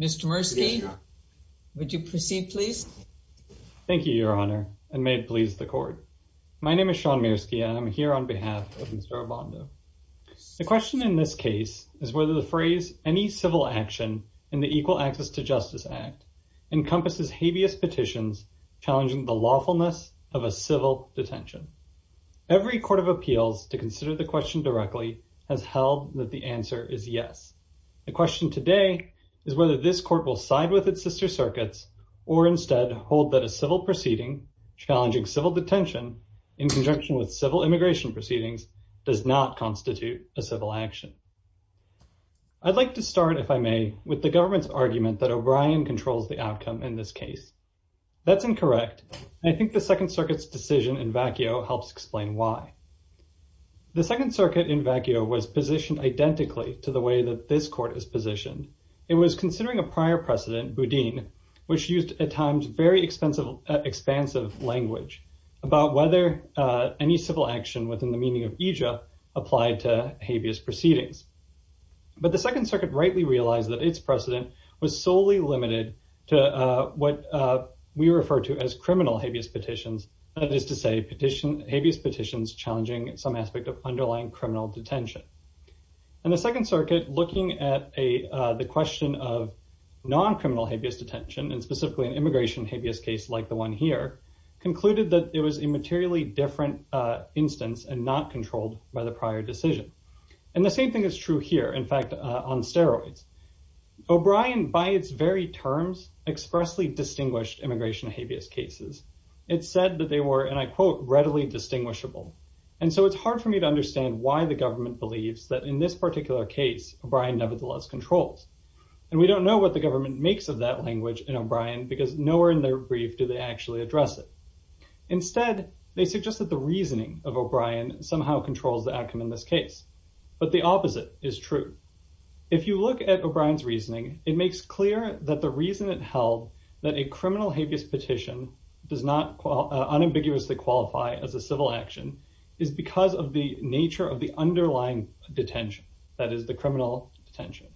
Mr. Mierski, would you proceed please? Thank you, Your Honor, and may it please the Court. My name is Sean Mierski, and I'm here on behalf of Mr. Obando. The question in this case is whether the phrase, any civil action in the Equal Access to Justice Act, encompasses habeas petitions challenging the lawfulness of a civil detention. Every court of appeals to consider the question directly has held that the answer is yes. The question today is whether this court will side with its sister circuits or instead hold that a civil proceeding challenging civil detention in conjunction with civil immigration proceedings does not constitute a civil action. I'd like to start, if I may, with the government's argument that O'Brien controls the outcome in this case. That's incorrect, and I think the Second Circuit's decision in vacuo helps explain why. The Second Circuit in vacuo was positioned identically to the way that this court is positioned. It was considering a prior precedent, Boudin, which used at times very expensive, expansive language, about whether any civil action within the meaning of aegis applied to habeas proceedings. But the Second Circuit rightly realized that its precedent was solely limited to what we refer to as criminal habeas petitions, that is to say, habeas petitions challenging some aspect of underlying criminal detention. And the Second Circuit, looking at the question of non-criminal habeas detention, and specifically an immigration habeas case like the one here, concluded that it was a materially different instance and not controlled by the prior decision. And the same thing is true here, in fact, on steroids. O'Brien, by its very terms, expressly distinguished immigration habeas cases. It said that they were, and I quote, readily distinguishable. And so it's hard for me to understand why the government believes that in this particular case, O'Brien nevertheless controls. And we don't know what the government makes of that language in O'Brien because nowhere in their brief do they actually address it. Instead, they suggest that the reasoning of O'Brien somehow controls the outcome in this case. But the opposite is true. If you look at O'Brien's reasoning, it makes clear that the reason it held that a criminal habeas petition does not unambiguously qualify as a civil action is because of the nature of the underlying detention. That is the criminal detention.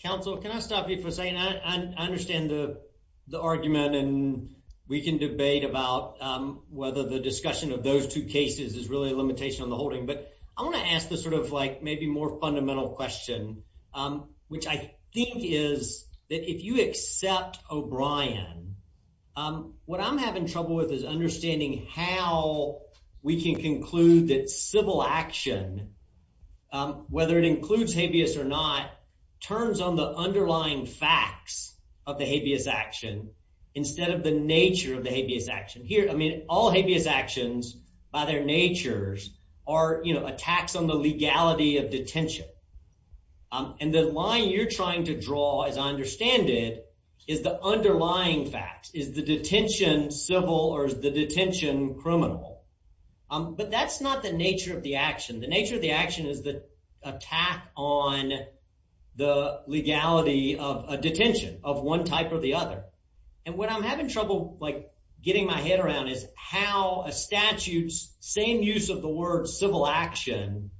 Counsel, can I stop you for a second? I understand the argument. And we can debate about whether the discussion of those two cases is really a limitation on the holding. But I want to ask the sort of like maybe more fundamental question, which I think is that if you accept O'Brien, what I'm having trouble with is understanding how we can conclude that civil action, whether it includes habeas or not, turns on the underlying facts of the habeas action instead of the nature of the habeas action here. I mean, all habeas actions by their natures are attacks on the legality of detention. And the line you're trying to draw, as I understand it, is the underlying facts. Is the detention civil or is the detention criminal? But that's not the nature of the action. The nature of the action is the attack on the legality of a detention of one type or the other. And what I'm having trouble getting my head around is how a statute's same use of the word civil action,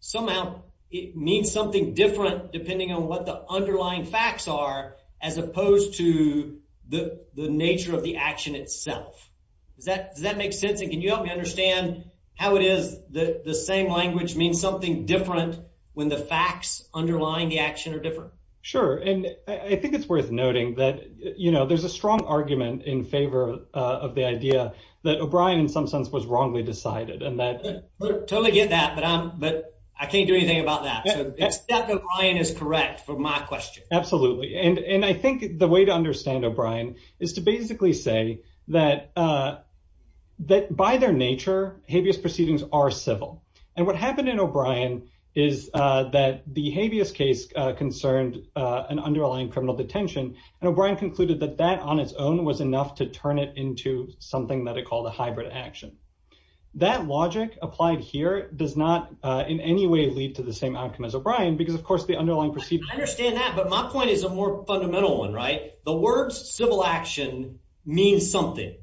somehow it means something different depending on what the underlying facts are as opposed to the nature of the action itself. Does that make sense? And can you help me understand how it is that the same language means something different when the facts underlying the action are different? Sure. And I think it's worth noting that, you know, there's a strong argument in favor of the idea that O'Brien, in some sense, was wrongly decided. And that totally get that. But I'm but I can't do anything about that. It's that O'Brien is correct for my question. Absolutely. And I think the way to understand O'Brien is to basically say that that by their nature, habeas proceedings are civil. And what happened in O'Brien is that the habeas case concerned an underlying criminal detention. And O'Brien concluded that that on its own was enough to turn it into something that it called a hybrid action. That logic applied here does not in any way lead to the same outcome as O'Brien, because, of course, the underlying proceed. I understand that. But my point is a more fundamental one. Right. The words civil action means something.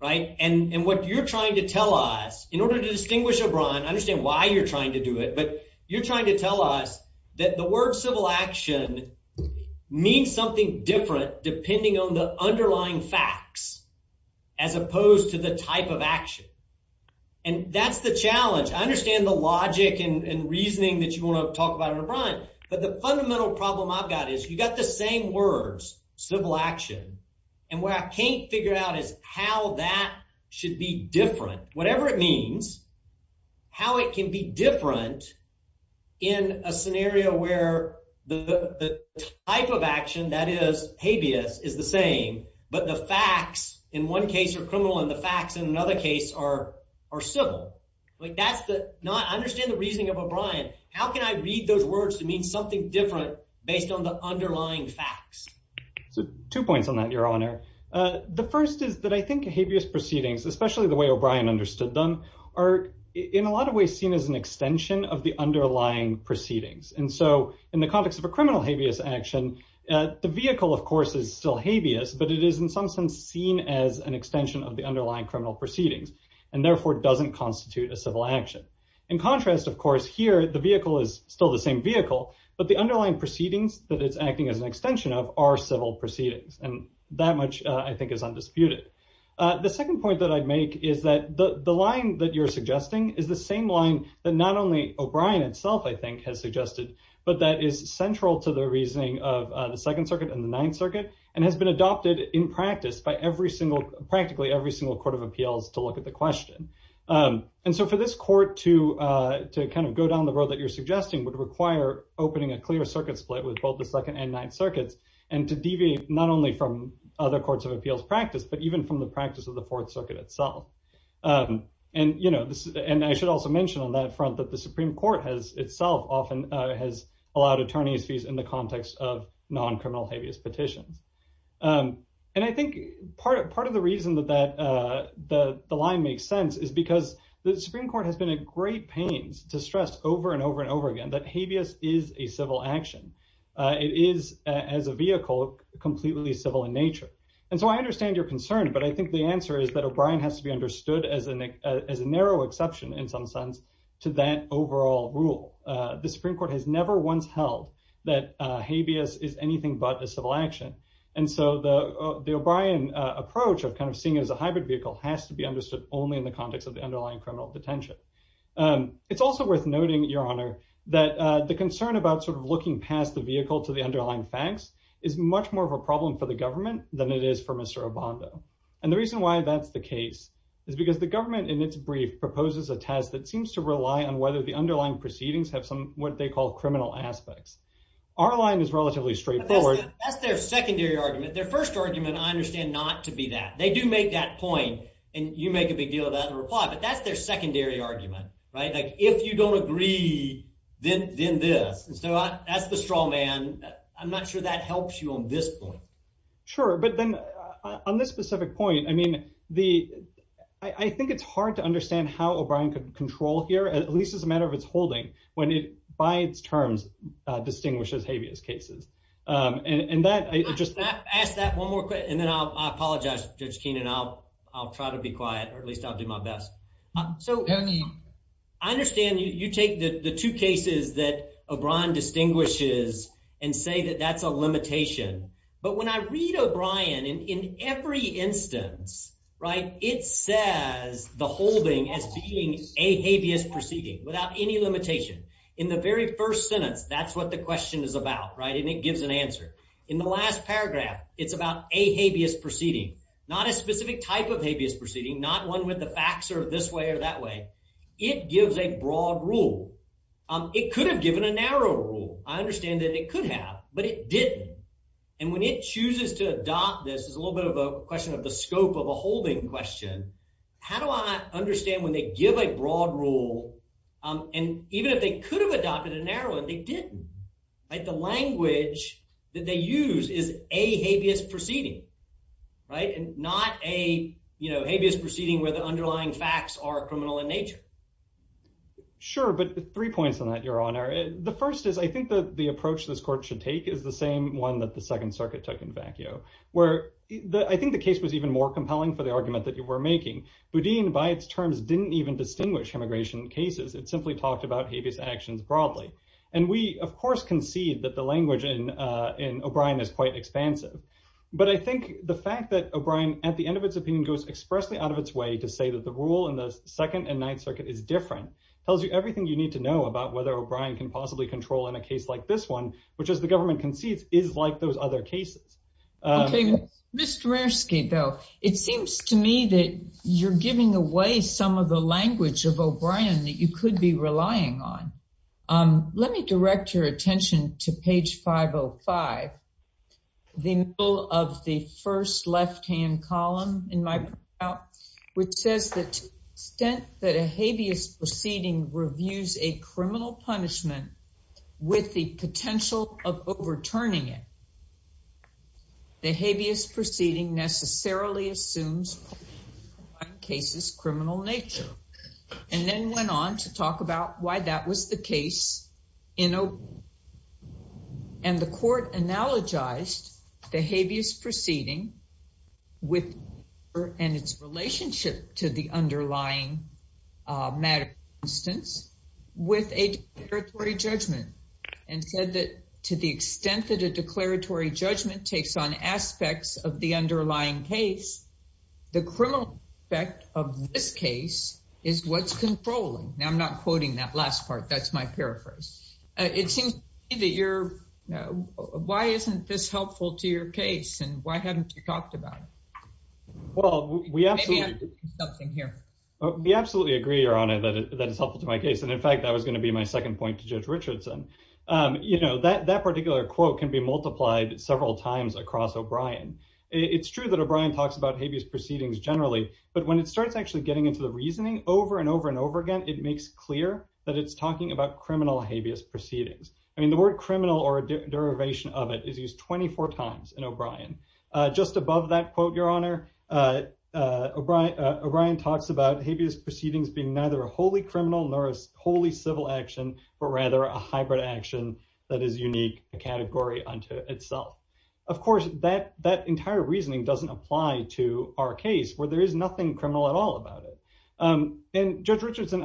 Right. And what you're trying to tell us in order to distinguish O'Brien, I understand why you're trying to do it, but you're trying to tell us that the word civil action means something different depending on the underlying facts as opposed to the type of action. And that's the challenge. I understand the logic and reasoning that you want to talk about O'Brien. But the fundamental problem I've got is you've got the same words, civil action. And what I can't figure out is how that should be different. Whatever it means, how it can be different in a scenario where the type of action that is habeas is the same, but the facts in one case are criminal and the facts in another case are are civil. I understand the reasoning of O'Brien. How can I read those words to mean something different based on the underlying facts? So two points on that, Your Honor. The first is that I think habeas proceedings, especially the way O'Brien understood them, are in a lot of ways seen as an extension of the underlying proceedings. And so in the context of a criminal habeas action, the vehicle, of course, is still habeas. But it is in some sense seen as an extension of the underlying criminal proceedings and therefore doesn't constitute a civil action. In contrast, of course, here, the vehicle is still the same vehicle, but the underlying proceedings that it's acting as an extension of are civil proceedings. And that much, I think, is undisputed. The second point that I'd make is that the line that you're suggesting is the same line that not only O'Brien itself, I think, has suggested, but that is central to the reasoning of the Second Circuit and the Ninth Circuit and has been adopted in practice by every single, practically every single court of appeals to look at the question. And so for this court to to kind of go down the road that you're suggesting would require opening a clear circuit split with both the Second and Ninth Circuits and to deviate not only from other courts of appeals practice, but even from the practice of the Fourth Circuit itself. And, you know, and I should also mention on that front that the Supreme Court has itself often has allowed attorneys fees in the context of non-criminal habeas petitions. And I think part of part of the reason that that the line makes sense is because the Supreme Court has been a great pains to stress over and over and over again that habeas is a civil action. It is, as a vehicle, completely civil in nature. And so I understand your concern, but I think the answer is that O'Brien has to be understood as a as a narrow exception in some sense to that overall rule. The Supreme Court has never once held that habeas is anything but a civil action. And so the O'Brien approach of kind of seeing it as a hybrid vehicle has to be understood only in the context of the underlying criminal detention. It's also worth noting, Your Honor, that the concern about sort of looking past the vehicle to the underlying facts is much more of a problem for the government than it is for Mr. Obando. And the reason why that's the case is because the government in its brief proposes a test that seems to rely on whether the underlying proceedings have some what they call criminal aspects. Our line is relatively straightforward. That's their secondary argument. Their first argument, I understand, not to be that they do make that point. And you make a big deal of that in reply, but that's their secondary argument, right? Like if you don't agree, then this. So that's the straw man. I'm not sure that helps you on this point. Sure. But then on this specific point, I mean, the I think it's hard to understand how O'Brien could control here, at least as a matter of its holding when it by its terms distinguishes habeas cases. And that I just ask that one more. And then I apologize, Judge Keenan, I'll I'll try to be quiet or at least I'll do my best. So I understand you take the two cases that O'Brien distinguishes and say that that's a limitation. But when I read O'Brien in every instance, right, it says the holding as being a habeas proceeding without any limitation in the very first sentence. That's what the question is about. Right. And it gives an answer in the last paragraph. It's about a habeas proceeding, not a specific type of habeas proceeding, not one with the facts or this way or that way. It gives a broad rule. It could have given a narrow rule. I understand that it could have, but it didn't. And when it chooses to adopt, this is a little bit of a question of the scope of a holding question. How do I understand when they give a broad rule and even if they could have adopted a narrow and they didn't like the language that they use is a habeas proceeding. Right. And not a habeas proceeding where the underlying facts are criminal in nature. Sure. But three points on that, Your Honor. The first is I think that the approach this court should take is the same one that the Second Circuit took in vacuo, where I think the case was even more compelling for the argument that you were making. Boudin, by its terms, didn't even distinguish immigration cases. It simply talked about habeas actions broadly. And we, of course, concede that the language in O'Brien is quite expansive. But I think the fact that O'Brien at the end of its opinion goes expressly out of its way to say that the rule in the Second and Ninth Circuit is different tells you everything you need to know about whether O'Brien can possibly control in a case like this one, which, as the government concedes, is like those other cases. Mr. Raskin, though, it seems to me that you're giving away some of the language of O'Brien that you could be relying on. Let me direct your attention to page 505. The middle of the first left-hand column in my report, which says that to the extent that a habeas proceeding reviews a criminal punishment with the potential of overturning it, the habeas proceeding necessarily assumes criminal nature. And then went on to talk about why that was the case. And the court analogized the habeas proceeding and its relationship to the underlying matter, for instance, with a declaratory judgment. And said that to the extent that a declaratory judgment takes on aspects of the underlying case, the criminal effect of this case is what's controlling. Now, I'm not quoting that last part. That's my paraphrase. It seems to me that you're, you know, why isn't this helpful to your case and why haven't you talked about it? Well, we absolutely agree, Your Honor, that it's helpful to my case. And in fact, that was going to be my second point to Judge Richardson. You know, that that particular quote can be multiplied several times across O'Brien. It's true that O'Brien talks about habeas proceedings generally. But when it starts actually getting into the reasoning over and over and over again, it makes clear that it's talking about criminal habeas proceedings. I mean, the word criminal or a derivation of it is used 24 times in O'Brien. Just above that quote, Your Honor, O'Brien talks about habeas proceedings being neither a wholly criminal nor a wholly civil action, but rather a hybrid action that is unique category unto itself. Of course, that that entire reasoning doesn't apply to our case where there is nothing criminal at all about it. And Judge Richardson,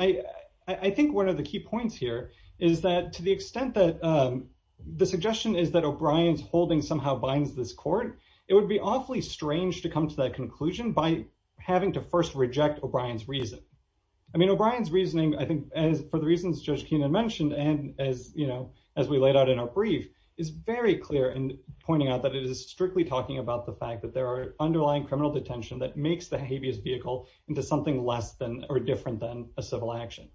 I think one of the key points here is that to the extent that the suggestion is that O'Brien's holding somehow binds this court, it would be awfully strange to come to that conclusion by having to first reject O'Brien's reason. I mean, O'Brien's reasoning, I think, as for the reasons Judge Keenan mentioned and as you know, as we laid out in our brief, is very clear in pointing out that it is strictly talking about the fact that there are underlying criminal detention that makes the habeas vehicle into something less than or different than a civil action.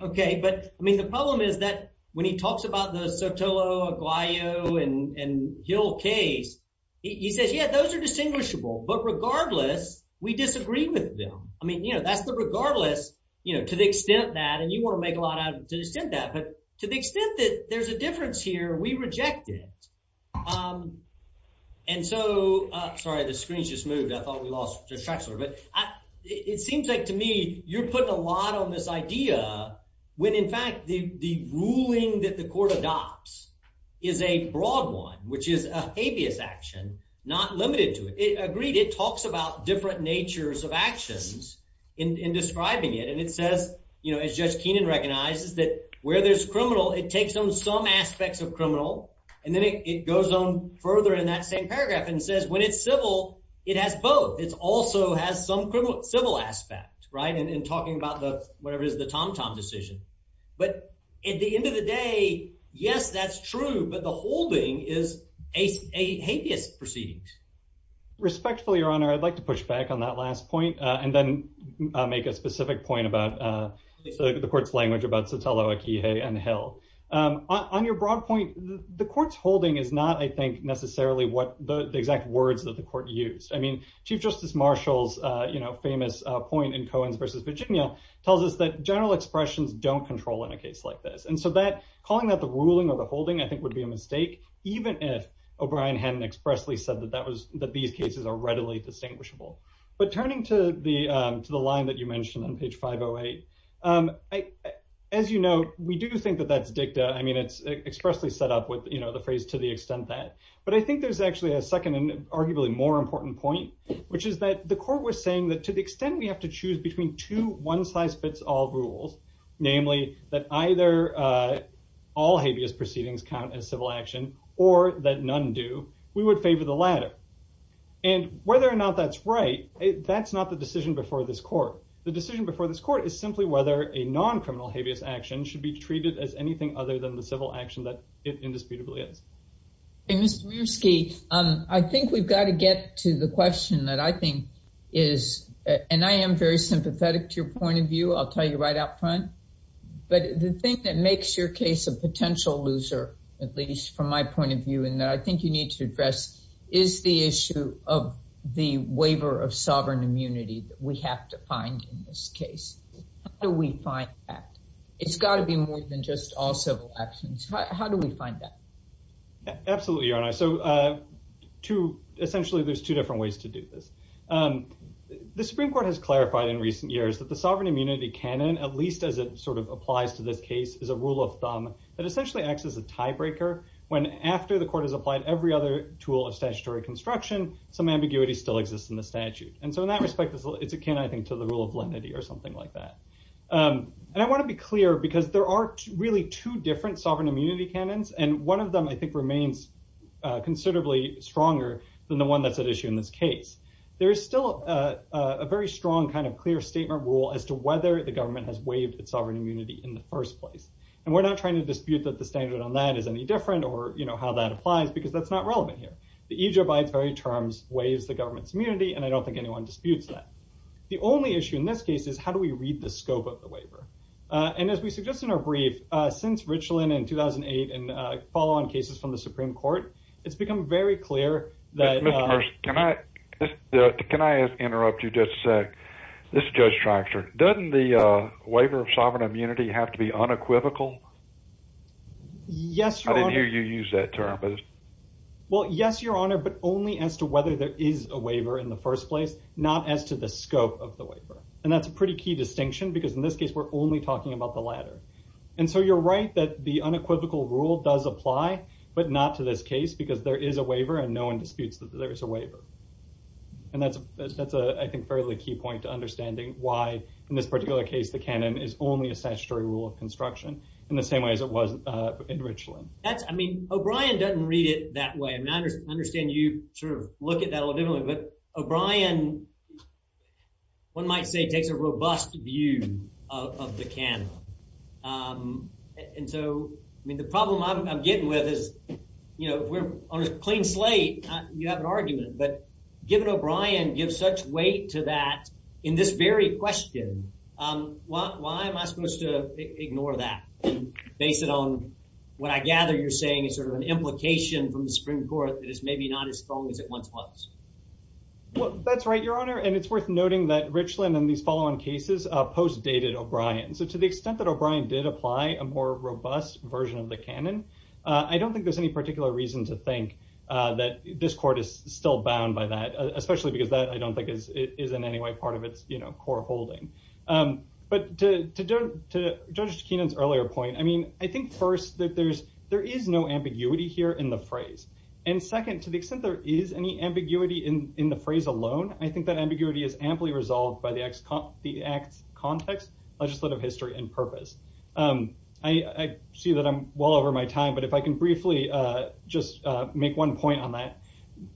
OK, but I mean, the problem is that when he talks about the Sotelo, Aguayo and Hill case, he says, yeah, those are distinguishable, but regardless, we disagree with them. I mean, you know, that's the regardless, you know, to the extent that and you want to make a lot out of that, but to the extent that there's a difference here, we reject it. And so sorry, the screen's just moved. I thought we lost track of it. It seems like to me you're putting a lot on this idea when, in fact, the ruling that the court adopts is a broad one, which is a habeas action, not limited to it. Agreed it talks about different natures of actions in describing it. And it says, you know, it's just Keenan recognizes that where there's criminal, it takes on some aspects of criminal. And then it goes on further in that same paragraph and says when it's civil, it has both. It's also has some civil aspect. Right. And talking about the whatever is the Tom Tom decision. But at the end of the day, yes, that's true. But the whole thing is a habeas proceedings. Respectfully, Your Honor, I'd like to push back on that last point and then make a specific point about the court's language about Sotelo, Akihe and Hill. On your broad point, the court's holding is not, I think, necessarily what the exact words that the court used. I mean, Chief Justice Marshall's, you know, famous point in Coen's versus Virginia tells us that general expressions don't control in a case like this. And so that calling that the ruling or the holding, I think, would be a mistake. Even if O'Brien hadn't expressly said that that was that these cases are readily distinguishable. But turning to the to the line that you mentioned on page 508. As you know, we do think that that's dicta. I mean, it's expressly set up with the phrase to the extent that. But I think there's actually a second and arguably more important point, which is that the court was saying that to the extent we have to choose between two one size fits all rules. Namely that either all habeas proceedings count as civil action or that none do. We would favor the latter. And whether or not that's right, that's not the decision before this court. The decision before this court is simply whether a non-criminal habeas action should be treated as anything other than the civil action that it indisputably is. Mr. Mirsky, I think we've got to get to the question that I think is and I am very sympathetic to your point of view. I'll tell you right up front. But the thing that makes your case a potential loser, at least from my point of view, and I think you need to address is the issue of the waiver of sovereign immunity that we have to find in this case. How do we find that? It's got to be more than just all civil actions. How do we find that? Absolutely, Your Honor. So essentially there's two different ways to do this. The Supreme Court has clarified in recent years that the sovereign immunity canon, at least as it sort of applies to this case, is a rule of thumb that essentially acts as a tiebreaker. When after the court has applied every other tool of statutory construction, some ambiguity still exists in the statute. And so in that respect, it's akin, I think, to the rule of lenity or something like that. And I want to be clear because there are really two different sovereign immunity canons, and one of them I think remains considerably stronger than the one that's at issue in this case. There is still a very strong kind of clear statement rule as to whether the government has waived its sovereign immunity in the first place. And we're not trying to dispute that the standard on that is any different or, you know, how that applies because that's not relevant here. The EJ abides by its very terms, waives the government's immunity, and I don't think anyone disputes that. The only issue in this case is how do we read the scope of the waiver? And as we suggest in our brief, since Richland in 2008 and follow on cases from the Supreme Court, it's become very clear that— Can I interrupt you just a sec? This is Judge Tractor. Doesn't the waiver of sovereign immunity have to be unequivocal? Yes, Your Honor. I didn't hear you use that term. Well, yes, Your Honor, but only as to whether there is a waiver in the first place, not as to the scope of the waiver. And that's a pretty key distinction because in this case we're only talking about the latter. And so you're right that the unequivocal rule does apply, but not to this case because there is a waiver and no one disputes that there is a waiver. And that's, I think, a fairly key point to understanding why in this particular case the canon is only a statutory rule of construction in the same way as it was in Richland. I mean, O'Brien doesn't read it that way. I mean, I understand you sort of look at that a little differently, but O'Brien, one might say, takes a robust view of the canon. And so, I mean, the problem I'm getting with is, you know, if we're on a clean slate, you have an argument. But given O'Brien gives such weight to that in this very question, why am I supposed to ignore that based on what I gather you're saying is sort of an implication from the Supreme Court that is maybe not as strong as it once was? Well, that's right, Your Honor. And it's worth noting that Richland in these follow-on cases post-dated O'Brien. So to the extent that O'Brien did apply a more robust version of the canon, I don't think there's any particular reason to think that this court is still bound by that, especially because that I don't think is in any way part of its core holding. But to Judge Kenan's earlier point, I mean, I think first that there is no ambiguity here in the phrase. And second, to the extent there is any ambiguity in the phrase alone, I think that ambiguity is amply resolved by the act's context, legislative history, and purpose. I see that I'm well over my time, but if I can briefly just make one point on that.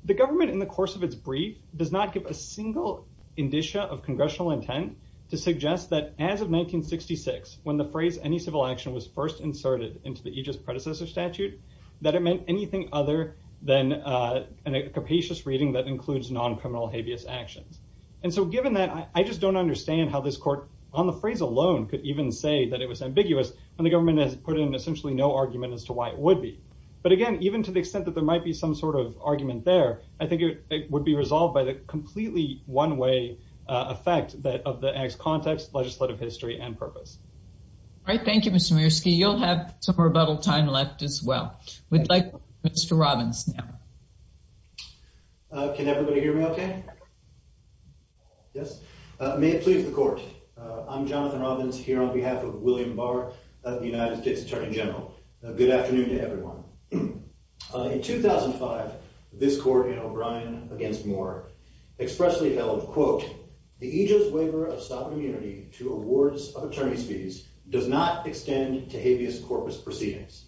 The government in the course of its brief does not give a single indicia of congressional intent to suggest that as of 1966, when the phrase any civil action was first inserted into the aegis predecessor statute, that it meant anything other than a capacious reading that includes non-criminal habeas actions. And so given that, I just don't understand how this court on the phrase alone could even say that it was ambiguous when the government has put in essentially no argument as to why it would be. But again, even to the extent that there might be some sort of argument there, I think it would be resolved by the completely one-way effect of the act's context, legislative history, and purpose. All right. Thank you, Mr. Mirsky. You'll have some rebuttal time left as well. We'd like Mr. Robbins now. Can everybody hear me okay? Yes. May it please the court. I'm Jonathan Robbins here on behalf of William Barr, the United States Attorney General. Good afternoon to everyone. In 2005, this court in O'Brien v. Moore expressly held, quote, the aegis waiver of sovereign immunity to awards of attorney's fees does not extend to habeas corpus proceedings.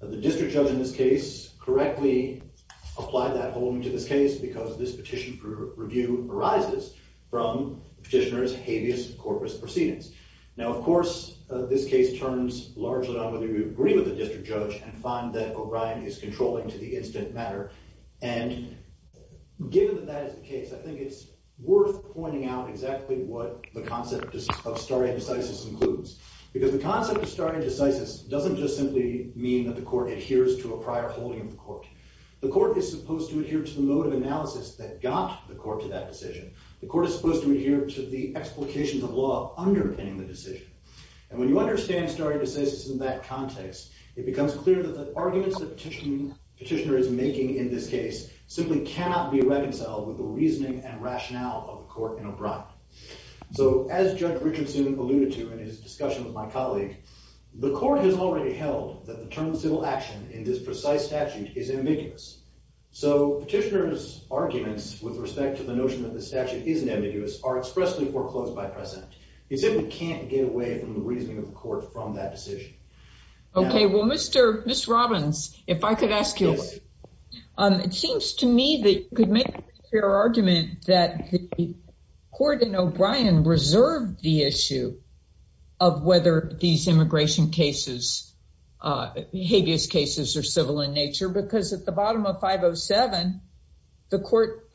The district judge in this case correctly applied that holding to this case because this petition for review arises from the petitioner's habeas corpus proceedings. Now, of course, this case turns largely on whether you agree with the district judge and find that O'Brien is controlling to the instant matter. And given that that is the case, I think it's worth pointing out exactly what the concept of stare decisis includes. Because the concept of stare decisis doesn't just simply mean that the court adheres to a prior holding of the court. The court is supposed to adhere to the mode of analysis that got the court to that decision. The court is supposed to adhere to the explications of law underpinning the decision. And when you understand stare decisis in that context, it becomes clear that the arguments that the petitioner is making in this case simply cannot be reconciled with the reasoning and rationale of the court in O'Brien. So as Judge Richardson alluded to in his discussion with my colleague, the court has already held that the term civil action in this precise statute is ambiguous. So petitioner's arguments with respect to the notion that the statute isn't ambiguous are expressly foreclosed by precedent. He simply can't get away from the reasoning of the court from that decision. Okay. Well, Mr. Robbins, if I could ask you, it seems to me that you could make your argument that the court in O'Brien reserved the issue of whether these immigration cases, behaviorist cases are civil in nature because at the bottom of 507, the court,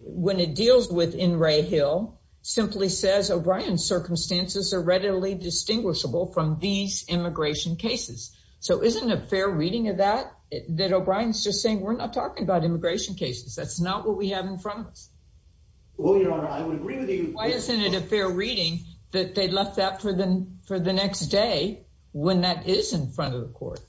when it deals with in Ray Hill, simply says O'Brien circumstances are readily distinguishable from these immigration cases. So isn't it fair reading of that, that O'Brien's just saying we're not talking about immigration cases. That's not what we have in front of us. Well, Your Honor, I would agree with you. Why isn't it a fair reading that they left that for the next day when that is in front of the court?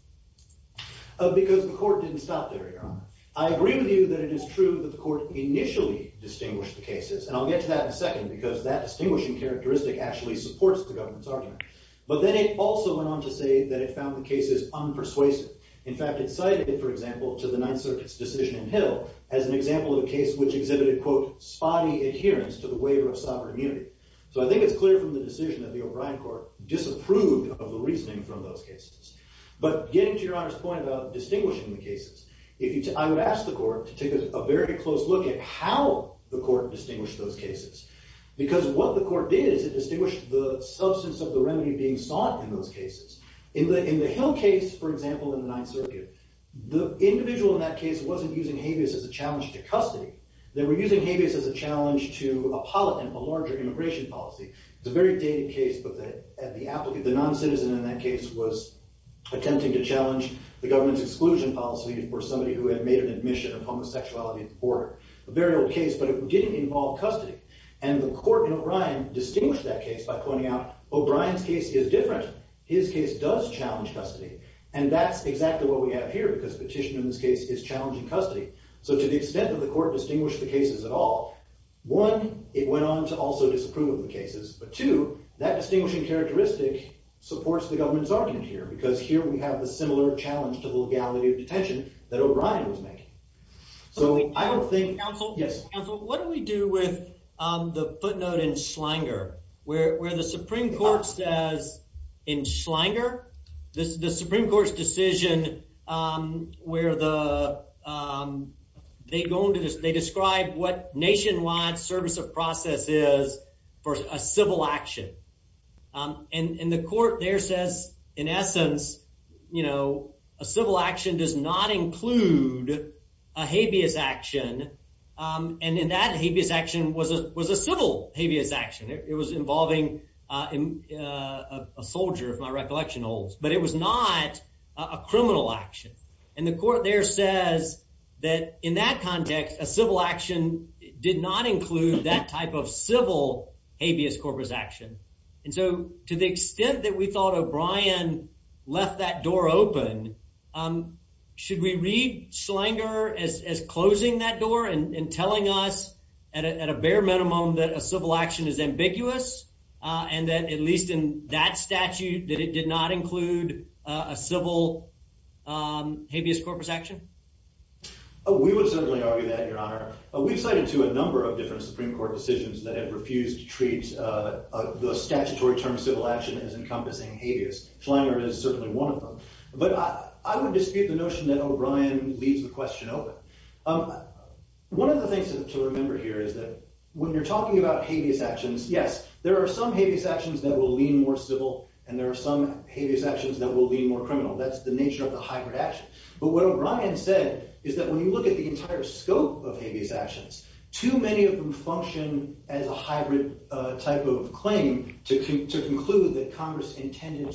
Because the court didn't stop there, Your Honor. I agree with you that it is true that the court initially distinguished the cases. And I'll get to that in a second because that distinguishing characteristic actually supports the government's argument. But then it also went on to say that it found the cases unpersuasive. In fact, it cited, for example, to the Ninth Circuit's decision in Hill as an example of a case which exhibited, quote, spotty adherence to the waiver of sovereign immunity. So I think it's clear from the decision that the O'Brien court disapproved of the reasoning from those cases. But getting to Your Honor's point about distinguishing the cases, I would ask the court to take a very close look at how the court distinguished those cases. Because what the court did is it distinguished the substance of the remedy being sought in those cases. In the Hill case, for example, in the Ninth Circuit, the individual in that case wasn't using habeas as a challenge to custody. They were using habeas as a challenge to a larger immigration policy. It's a very dated case, but the noncitizen in that case was attempting to challenge the government's exclusion policy for somebody who had made an admission of homosexuality at the border. A very old case, but it didn't involve custody. And the court in O'Brien distinguished that case by pointing out O'Brien's case is different. His case does challenge custody. And that's exactly what we have here, because petition in this case is challenging custody. So to the extent that the court distinguished the cases at all, one, it went on to also disapprove of the cases. But two, that distinguishing characteristic supports the government's argument here, because here we have the similar challenge to the legality of detention that O'Brien was making. So I don't think— Yes. What do we do with the footnote in Schlinger, where the Supreme Court says in Schlinger, the Supreme Court's decision where they describe what nationwide service of process is for a civil action. And the court there says, in essence, a civil action does not include a habeas action. And that habeas action was a civil habeas action. It was involving a soldier, if my recollection holds. But it was not a criminal action. And the court there says that in that context, a civil action did not include that type of civil habeas corpus action. And so to the extent that we thought O'Brien left that door open, should we read Schlinger as closing that door and telling us at a bare minimum that a civil action is ambiguous? And that at least in that statute, that it did not include a civil habeas corpus action? We would certainly argue that, Your Honor. We've cited, too, a number of different Supreme Court decisions that have refused to treat the statutory term civil action as encompassing habeas. Schlinger is certainly one of them. But I would dispute the notion that O'Brien leaves the question open. One of the things to remember here is that when you're talking about habeas actions, yes, there are some habeas actions that will lean more civil, and there are some habeas actions that will lean more criminal. That's the nature of the hybrid action. But what O'Brien said is that when you look at the entire scope of habeas actions, too many of them function as a hybrid type of claim to conclude that Congress intended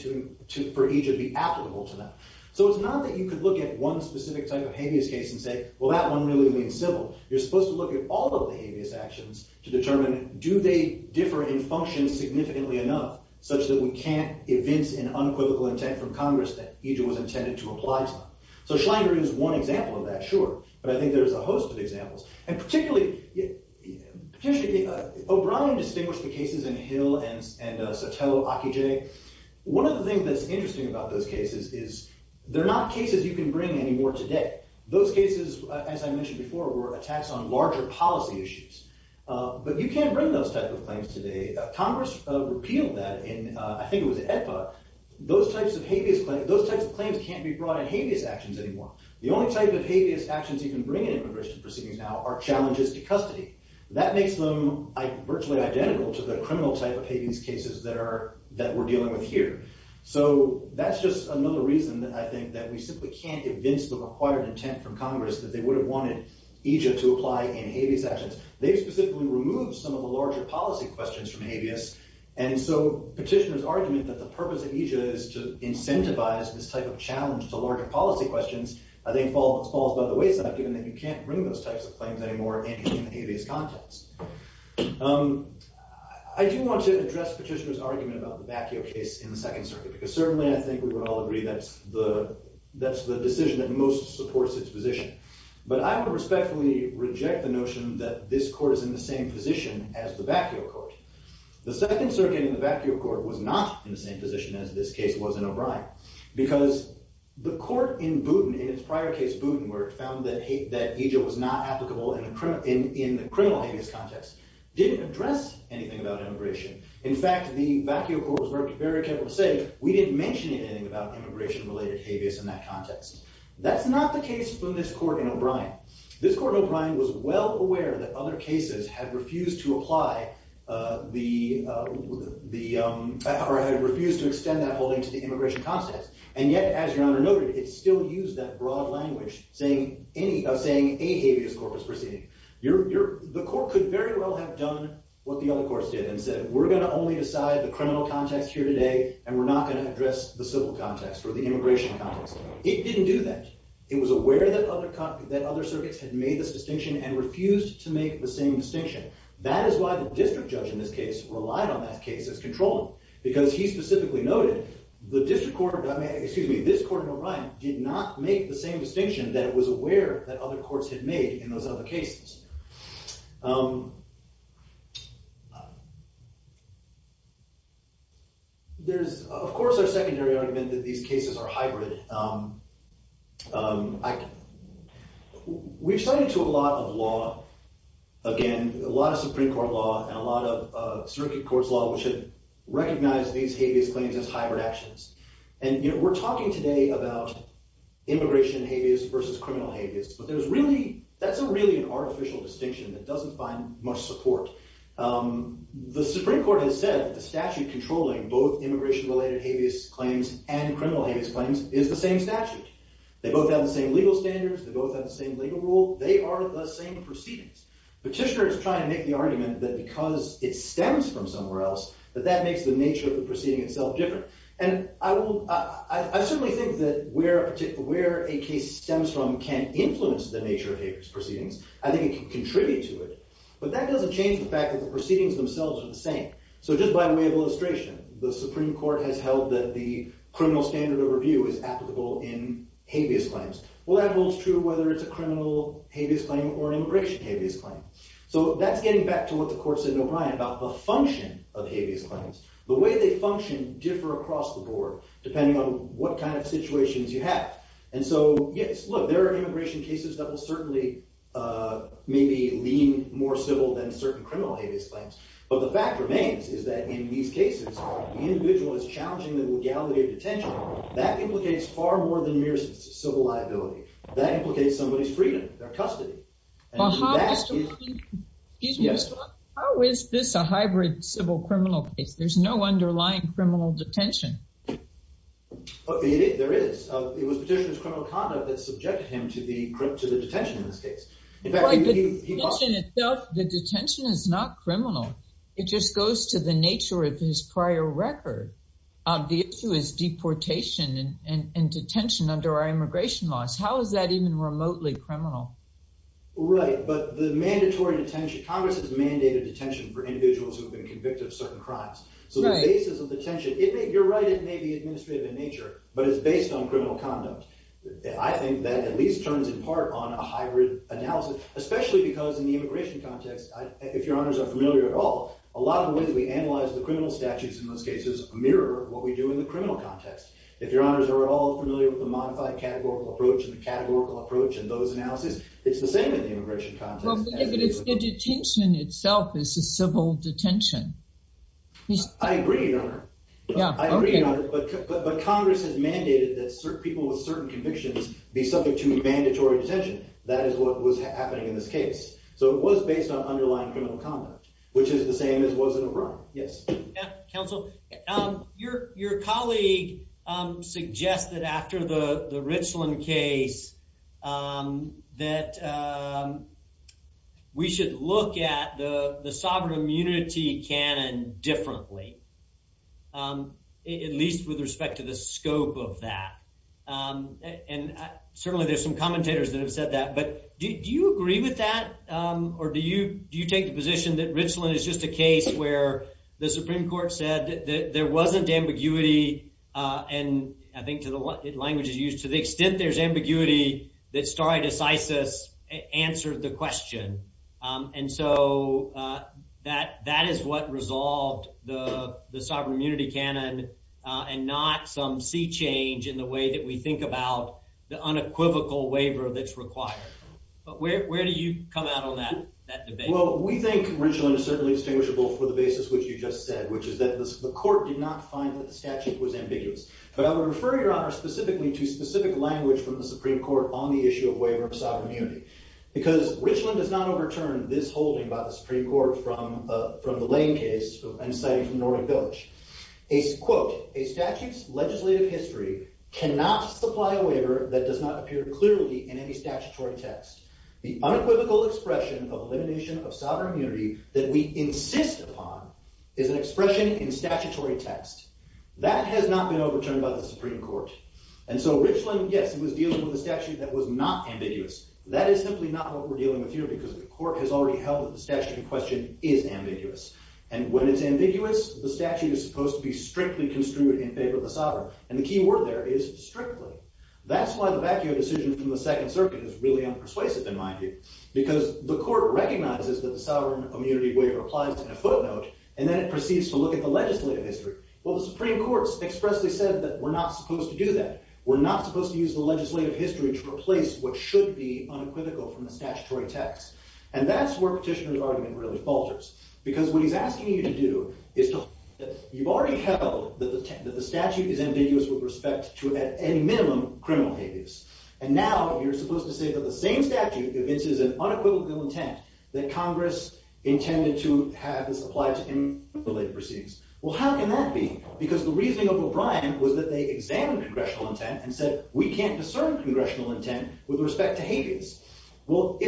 for each to be applicable to them. So it's not that you could look at one specific type of habeas case and say, well, that one really leans civil. You're supposed to look at all of the habeas actions to determine do they differ in function significantly enough such that we can't evince an unequivocal intent from Congress that each was intended to apply to them. So Schlinger is one example of that, sure. But I think there's a host of examples. And particularly, O'Brien distinguished the cases in Hill and Sotelo-Akije. One of the things that's interesting about those cases is they're not cases you can bring anymore today. Those cases, as I mentioned before, were attacks on larger policy issues. But you can't bring those type of claims today. Congress repealed that in, I think it was in EPA. Those types of claims can't be brought in habeas actions anymore. The only type of habeas actions you can bring in immigration proceedings now are challenges to custody. That makes them virtually identical to the criminal type of habeas cases that we're dealing with here. So that's just another reason, I think, that we simply can't evince the required intent from Congress that they would have wanted each to apply in habeas actions. They specifically removed some of the larger policy questions from habeas. And so Petitioner's argument that the purpose of EJIA is to incentivize this type of challenge to larger policy questions, I think, falls by the wayside, given that you can't bring those types of claims anymore in any of these contexts. I do want to address Petitioner's argument about the Bakio case in the Second Circuit, because certainly I think we would all agree that's the decision that most supports its position. But I would respectfully reject the notion that this court is in the same position as the Bakio court. The Second Circuit in the Bakio court was not in the same position as this case was in O'Brien, because the court in Booten, in its prior case Booten, where it found that EJIA was not applicable in the criminal habeas context, didn't address anything about immigration. In fact, the Bakio court was very careful to say, we didn't mention anything about immigration-related habeas in that context. That's not the case from this court in O'Brien. This court in O'Brien was well aware that other cases had refused to extend that holding to the immigration context. And yet, as Your Honor noted, it still used that broad language of saying a habeas corpus proceeding. The court could very well have done what the other courts did and said, we're going to only decide the criminal context here today, and we're not going to address the civil context or the immigration context. It didn't do that. It was aware that other circuits had made this distinction and refused to make the same distinction. That is why the district judge in this case relied on that case as controlling. Because he specifically noted, this court in O'Brien did not make the same distinction that it was aware that other courts had made in those other cases. There's, of course, our secondary argument that these cases are hybrid. We've studied a lot of law, again, a lot of Supreme Court law and a lot of circuit courts law, which have recognized these habeas claims as hybrid actions. And we're talking today about immigration habeas versus criminal habeas. But that's really an artificial distinction that doesn't find much support. The Supreme Court has said that the statute controlling both immigration-related habeas claims and criminal habeas claims is the same statute. They both have the same legal standards. They both have the same legal rule. They are the same proceedings. Petitioner is trying to make the argument that because it stems from somewhere else, that that makes the nature of the proceeding itself different. And I certainly think that where a case stems from can influence the nature of habeas proceedings. I think it can contribute to it. But that doesn't change the fact that the proceedings themselves are the same. So just by way of illustration, the Supreme Court has held that the criminal standard of review is applicable in habeas claims. Well, that holds true whether it's a criminal habeas claim or an immigration habeas claim. So that's getting back to what the court said in O'Brien about the function of habeas claims. The way they function differ across the board depending on what kind of situations you have. And so, yes, look, there are immigration cases that will certainly maybe lean more civil than certain criminal habeas claims. But the fact remains is that in these cases, the individual is challenging the legality of detention. That implicates far more than mere civil liability. How is this a hybrid civil criminal case? There's no underlying criminal detention. There is. It was Petitioner's criminal conduct that subjected him to the detention in this case. The detention is not criminal. It just goes to the nature of his prior record. The issue is deportation and detention under our immigration laws. How is that even remotely criminal? Right, but the mandatory detention, Congress has mandated detention for individuals who have been convicted of certain crimes. So the basis of detention, you're right, it may be administrative in nature, but it's based on criminal conduct. I think that at least turns in part on a hybrid analysis, especially because in the immigration context, if your honors are familiar at all, a lot of the ways we analyze the criminal statutes in most cases mirror what we do in the criminal context. If your honors are at all familiar with the modified categorical approach and the categorical approach and those analyses, it's the same in the immigration context. But the detention itself is a civil detention. I agree, Your Honor. I agree, Your Honor, but Congress has mandated that people with certain convictions be subject to mandatory detention. That is what was happening in this case. So it was based on underlying criminal conduct, which is the same as was in O'Brien. Yes. Counsel, your colleague suggested after the Richland case that we should look at the sovereign immunity canon differently, at least with respect to the scope of that. And certainly there's some commentators that have said that, but do you agree with that? Or do you take the position that Richland is just a case where the Supreme Court said that there wasn't ambiguity, and I think the language is used, to the extent there's ambiguity, that stare decisis answered the question. And so that is what resolved the sovereign immunity canon and not some sea change in the way that we think about the unequivocal waiver that's required. But where do you come out on that debate? Well, we think Richland is certainly distinguishable for the basis which you just said, which is that the court did not find that the statute was ambiguous. But I would refer, Your Honor, specifically to specific language from the Supreme Court on the issue of waiver of sovereign immunity, because Richland does not overturn this holding by the Supreme Court from the Lane case and citing from Norwich Village. A statute's legislative history cannot supply a waiver that does not appear clearly in any statutory text. The unequivocal expression of elimination of sovereign immunity that we insist upon is an expression in statutory text. That has not been overturned by the Supreme Court. And so Richland, yes, was dealing with a statute that was not ambiguous. That is simply not what we're dealing with here, because the court has already held that the statute in question is ambiguous. And when it's ambiguous, the statute is supposed to be strictly construed in favor of the sovereign. And the key word there is strictly. That's why the vacuo decision from the Second Circuit is really unpersuasive, in my view, because the court recognizes that the sovereign immunity waiver applies in a footnote, and then it proceeds to look at the legislative history. Well, the Supreme Court expressly said that we're not supposed to do that. We're not supposed to use the legislative history to replace what should be unequivocal from the statutory text. And that's where Petitioner's argument really falters, because what he's asking you to do is to hold that you've already held that the statute is ambiguous with respect to, at any minimum, criminal habeas. And now you're supposed to say that the same statute evinces an unequivocal intent, that Congress intended to have this apply to any related proceedings. Well, how can that be? Because the reasoning of O'Brien was that they examined congressional intent and said, we can't discern congressional intent with respect to habeas. Well,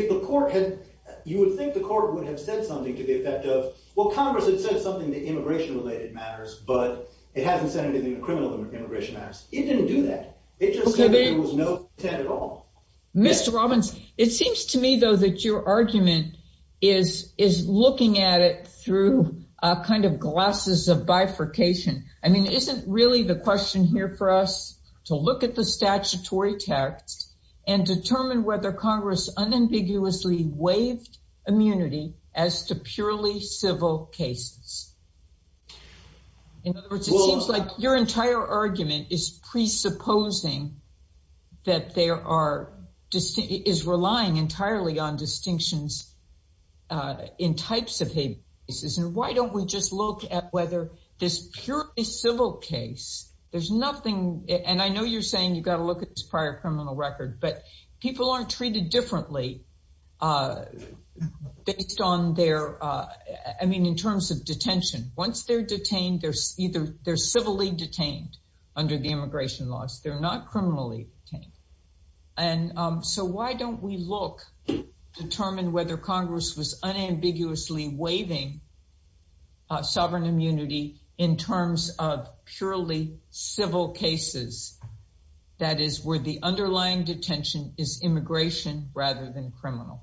you would think the court would have said something to the effect of, well, Congress had said something to immigration-related matters, but it hasn't said anything to criminal immigration matters. It didn't do that. It just said that there was no intent at all. Mr. Robbins, it seems to me, though, that your argument is looking at it through kind of glasses of bifurcation. I mean, isn't really the question here for us to look at the statutory text and determine whether Congress unambiguously waived immunity as to purely civil cases? In other words, it seems like your entire argument is presupposing that there are – is relying entirely on distinctions in types of habeas. And why don't we just look at whether this purely civil case, there's nothing – and I know you're saying you've got to look at this prior criminal record, but people aren't treated differently based on their – I mean, in terms of detention. Once they're detained, they're civilly detained under the immigration laws. They're not criminally detained. And so why don't we look, determine whether Congress was unambiguously waiving sovereign immunity in terms of purely civil cases, that is, where the underlying detention is immigration rather than criminal?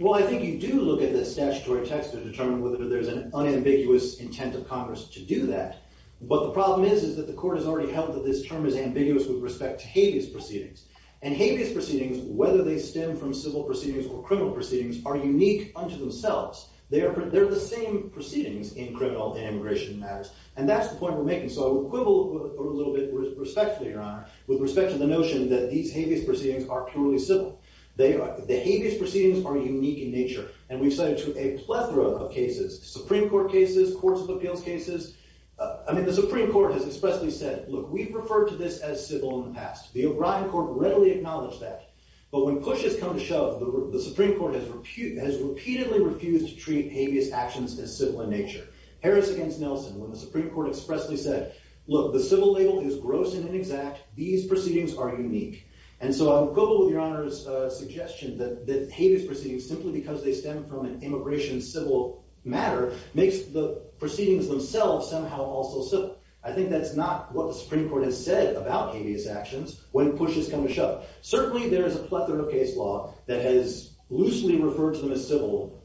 Well, I think you do look at the statutory text to determine whether there's an unambiguous intent of Congress to do that. But the problem is, is that the court has already held that this term is ambiguous with respect to habeas proceedings. And habeas proceedings, whether they stem from civil proceedings or criminal proceedings, are unique unto themselves. They are – they're the same proceedings in criminal – in immigration matters. And that's the point we're making. So I would quibble a little bit respectfully, Your Honor, with respect to the notion that these habeas proceedings are purely civil. They are – the habeas proceedings are unique in nature. And we've cited a plethora of cases, Supreme Court cases, courts of appeals cases. I mean, the Supreme Court has expressly said, look, we've referred to this as civil in the past. The O'Brien court readily acknowledged that. But when push has come to shove, the Supreme Court has repeatedly refused to treat habeas actions as civil in nature. Harris against Nelson, when the Supreme Court expressly said, look, the civil label is gross and inexact. These proceedings are unique. And so I would quibble with Your Honor's suggestion that habeas proceedings, simply because they stem from an immigration civil matter, makes the proceedings themselves somehow also civil. I think that's not what the Supreme Court has said about habeas actions when push has come to shove. Certainly, there is a plethora of case law that has loosely referred to them as civil,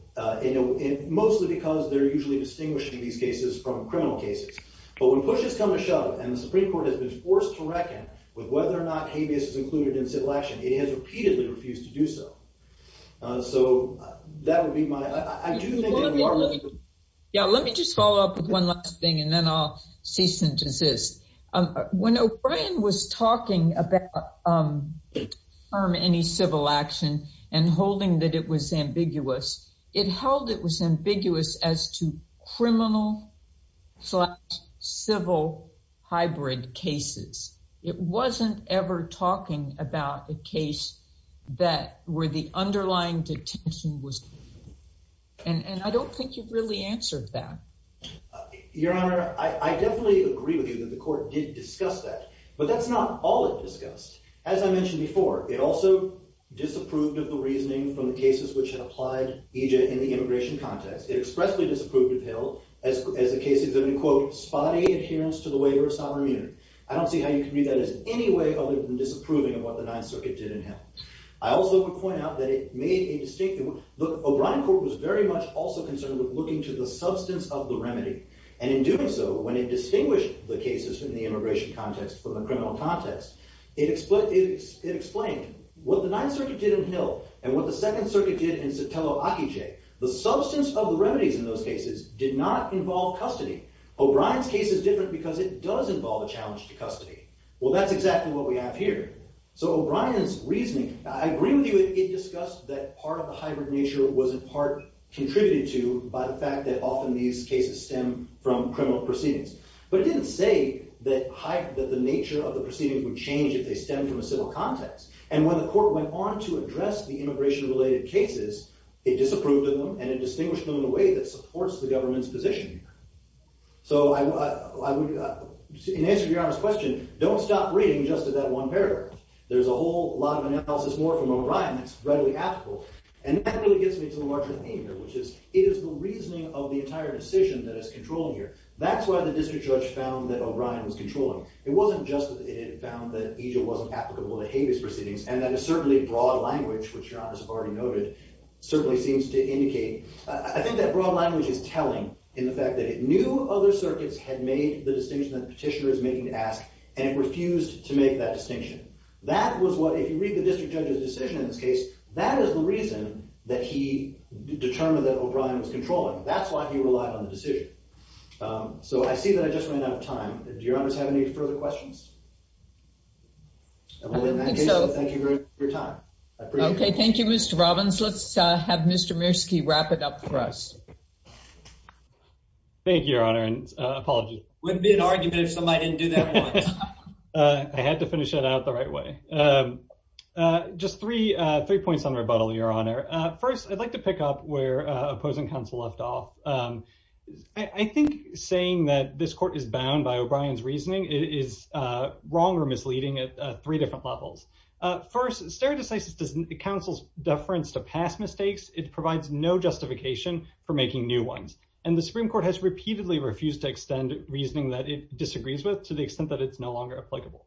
mostly because they're usually distinguishing these cases from criminal cases. But when push has come to shove and the Supreme Court has been forced to reckon with whether or not habeas is included in civil action, it has repeatedly refused to do so. So that would be my – I do think that in part – Yeah, let me just follow up with one last thing and then I'll cease and desist. When O'Brien was talking about any civil action and holding that it was ambiguous, it held it was ambiguous as to criminal-slash-civil hybrid cases. It wasn't ever talking about a case that – where the underlying detention was – and I don't think you've really answered that. Your Honor, I definitely agree with you that the Court did discuss that, but that's not all it discussed. As I mentioned before, it also disapproved of the reasoning from the cases which had applied EJ in the immigration context. It expressly disapproved of Hill as the case exhibited, quote, spotty adherence to the waiver of sovereign immunity. I don't see how you can read that as any way other than disapproving of what the Ninth Circuit did in Hill. I also would point out that it made a distinct – look, O'Brien Court was very much also concerned with looking to the substance of the remedy. And in doing so, when it distinguished the cases in the immigration context from the criminal context, it explained what the Ninth Circuit did in Hill and what the Second Circuit did in Sotelo-Akiche. The substance of the remedies in those cases did not involve custody. O'Brien's case is different because it does involve a challenge to custody. Well, that's exactly what we have here. So O'Brien's reasoning – I agree with you that it discussed that part of the hybrid nature was in part contributed to by the fact that often these cases stem from criminal proceedings. But it didn't say that the nature of the proceedings would change if they stemmed from a civil context. And when the court went on to address the immigration-related cases, it disapproved of them and it distinguished them in a way that supports the government's position. So I would – in answer to Your Honor's question, don't stop reading just to that one paragraph. There's a whole lot of analysis more from O'Brien that's readily applicable. And that really gets me to the larger theme here, which is it is the reasoning of the entire decision that is controlling here. That's why the district judge found that O'Brien was controlling. It wasn't just that it found that EJIL wasn't applicable to habeas proceedings and that a certainly broad language, which Your Honor has already noted, certainly seems to indicate – I think that broad language is telling in the fact that it knew other circuits had made the distinction that the petitioner is making to ask, and it refused to make that distinction. That was what – if you read the district judge's decision in this case, that is the reason that he determined that O'Brien was controlling. That's why he relied on the decision. So I see that I just ran out of time. Do Your Honors have any further questions? And we'll end that case, and thank you very much for your time. I appreciate it. Okay, thank you, Mr. Robbins. Let's have Mr. Mirsky wrap it up for us. Thank you, Your Honor, and apologies. Wouldn't be an argument if somebody didn't do that once. I had to finish it out the right way. Just three points on rebuttal, Your Honor. First, I'd like to pick up where opposing counsel left off. I think saying that this court is bound by O'Brien's reasoning is wrong or misleading at three different levels. First, stare decisis counsel's deference to past mistakes. It provides no justification for making new ones. And the Supreme Court has repeatedly refused to extend reasoning that it disagrees with to the extent that it's no longer applicable.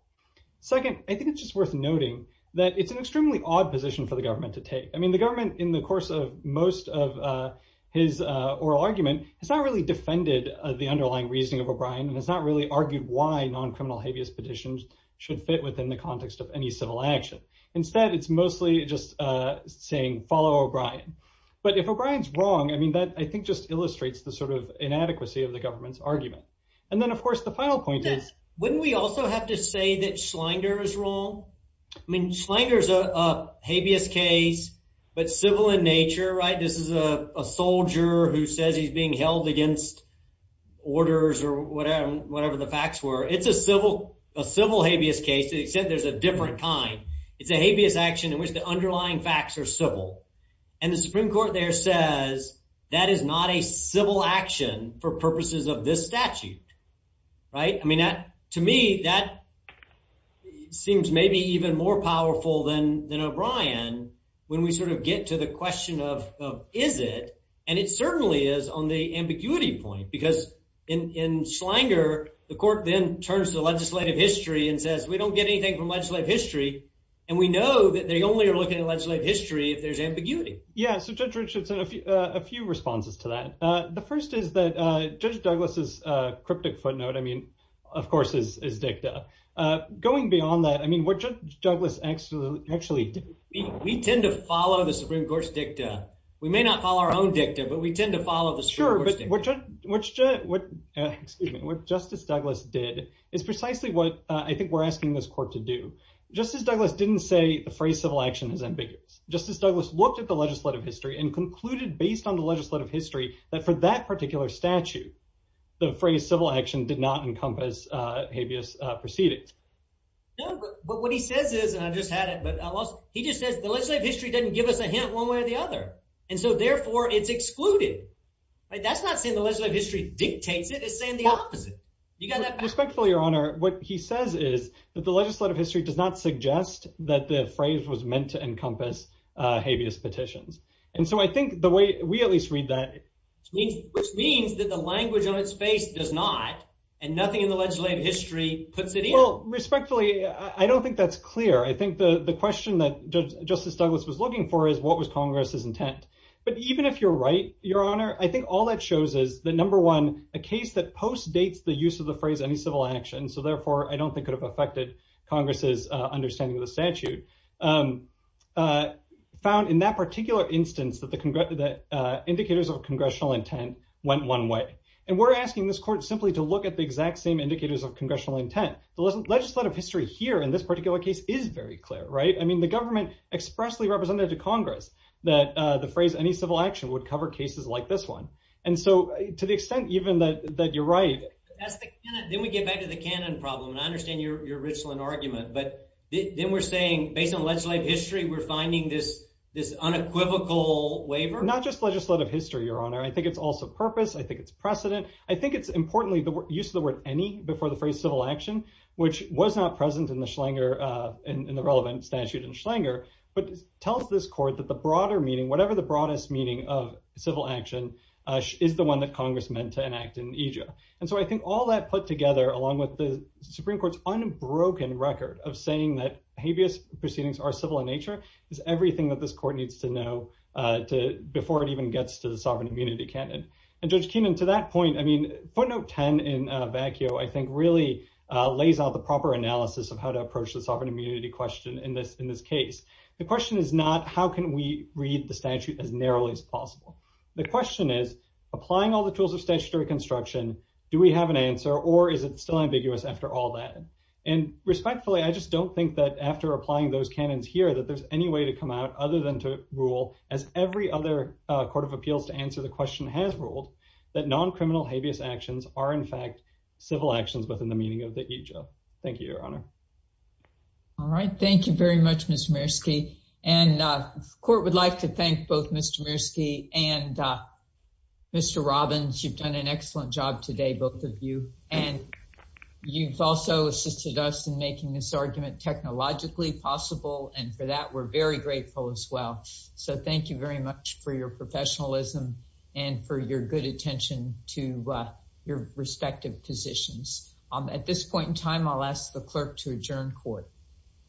Second, I think it's just worth noting that it's an extremely odd position for the government to take. I mean, the government, in the course of most of his oral argument, has not really defended the underlying reasoning of O'Brien and has not really argued why non-criminal habeas petitions should fit within the context of any civil action. Instead, it's mostly just saying follow O'Brien. But if O'Brien's wrong, I mean, that, I think, just illustrates the sort of inadequacy of the government's argument. And then, of course, the final point is. Wouldn't we also have to say that Schlanger is wrong? I mean, Schlanger's a habeas case, but civil in nature, right? This is a soldier who says he's being held against orders or whatever the facts were. It's a civil habeas case, except there's a different kind. It's a habeas action in which the underlying facts are civil. And the Supreme Court there says that is not a civil action for purposes of this statute, right? I mean, to me, that seems maybe even more powerful than O'Brien when we sort of get to the question of, is it? And it certainly is on the ambiguity point, because in Schlanger, the court then turns to legislative history and says, we don't get anything from legislative history, and we know that they only are looking at legislative history if there's ambiguity. Yeah, so Judge Richardson, a few responses to that. The first is that Judge Douglas' cryptic footnote, I mean, of course, is dicta. Going beyond that, I mean, what Judge Douglas actually did. We tend to follow the Supreme Court's dicta. We may not follow our own dicta, but we tend to follow the Supreme Court's dicta. Sure, but what Justice Douglas did is precisely what I think we're asking this court to do. Justice Douglas didn't say the phrase civil action is ambiguous. Justice Douglas looked at the legislative history and concluded, based on the legislative history, that for that particular statute, the phrase civil action did not encompass ambiguous proceedings. No, but what he says is, and I just had it, but I lost it. He just says the legislative history doesn't give us a hint one way or the other, and so therefore it's excluded. That's not saying the legislative history dictates it. It's saying the opposite. Respectfully, Your Honor, what he says is that the legislative history does not suggest that the phrase was meant to encompass ambiguous petitions. And so I think the way we at least read that. Which means that the language on its face does not, and nothing in the legislative history puts it in. Well, respectfully, I don't think that's clear. I think the question that Justice Douglas was looking for is what was Congress's intent. But even if you're right, Your Honor, I think all that shows is that, number one, a case that postdates the use of the phrase any civil action, so therefore I don't think could have affected Congress's understanding of the statute, found in that particular instance that the indicators of congressional intent went one way. And we're asking this court simply to look at the exact same indicators of congressional intent. The legislative history here in this particular case is very clear, right? I mean, the government expressly represented to Congress that the phrase any civil action would cover cases like this one. And so to the extent even that you're right. Then we get back to the canon problem, and I understand your original argument. But then we're saying, based on legislative history, we're finding this unequivocal waiver? Not just legislative history, Your Honor. I think it's also purpose. I think it's precedent. I think it's importantly the use of the word any before the phrase civil action, which was not present in the Schlanger, in the relevant statute in Schlanger, but tells this court that the broader meaning, whatever the broadest meaning of civil action, is the one that Congress meant to enact in Aja. And so I think all that put together, along with the Supreme Court's unbroken record of saying that habeas proceedings are civil in nature, is everything that this court needs to know before it even gets to the sovereign immunity canon. And Judge Keenan, to that point, I mean, footnote 10 in vacuo, I think, really lays out the proper analysis of how to approach the sovereign immunity question in this in this case. The question is not how can we read the statute as narrowly as possible? The question is, applying all the tools of statutory construction, do we have an answer or is it still ambiguous after all that? And respectfully, I just don't think that after applying those canons here that there's any way to come out other than to rule, as every other court of appeals to answer the question has ruled, that non-criminal habeas actions are, in fact, civil actions within the meaning of the Aja. Thank you, Your Honor. All right. Thank you very much, Ms. Mierski. And the court would like to thank both Mr. Mierski and Mr. Robbins. You've done an excellent job today, both of you. And you've also assisted us in making this argument technologically possible. And for that, we're very grateful as well. So thank you very much for your professionalism and for your good attention to your respective positions. At this point in time, I'll ask the clerk to adjourn court.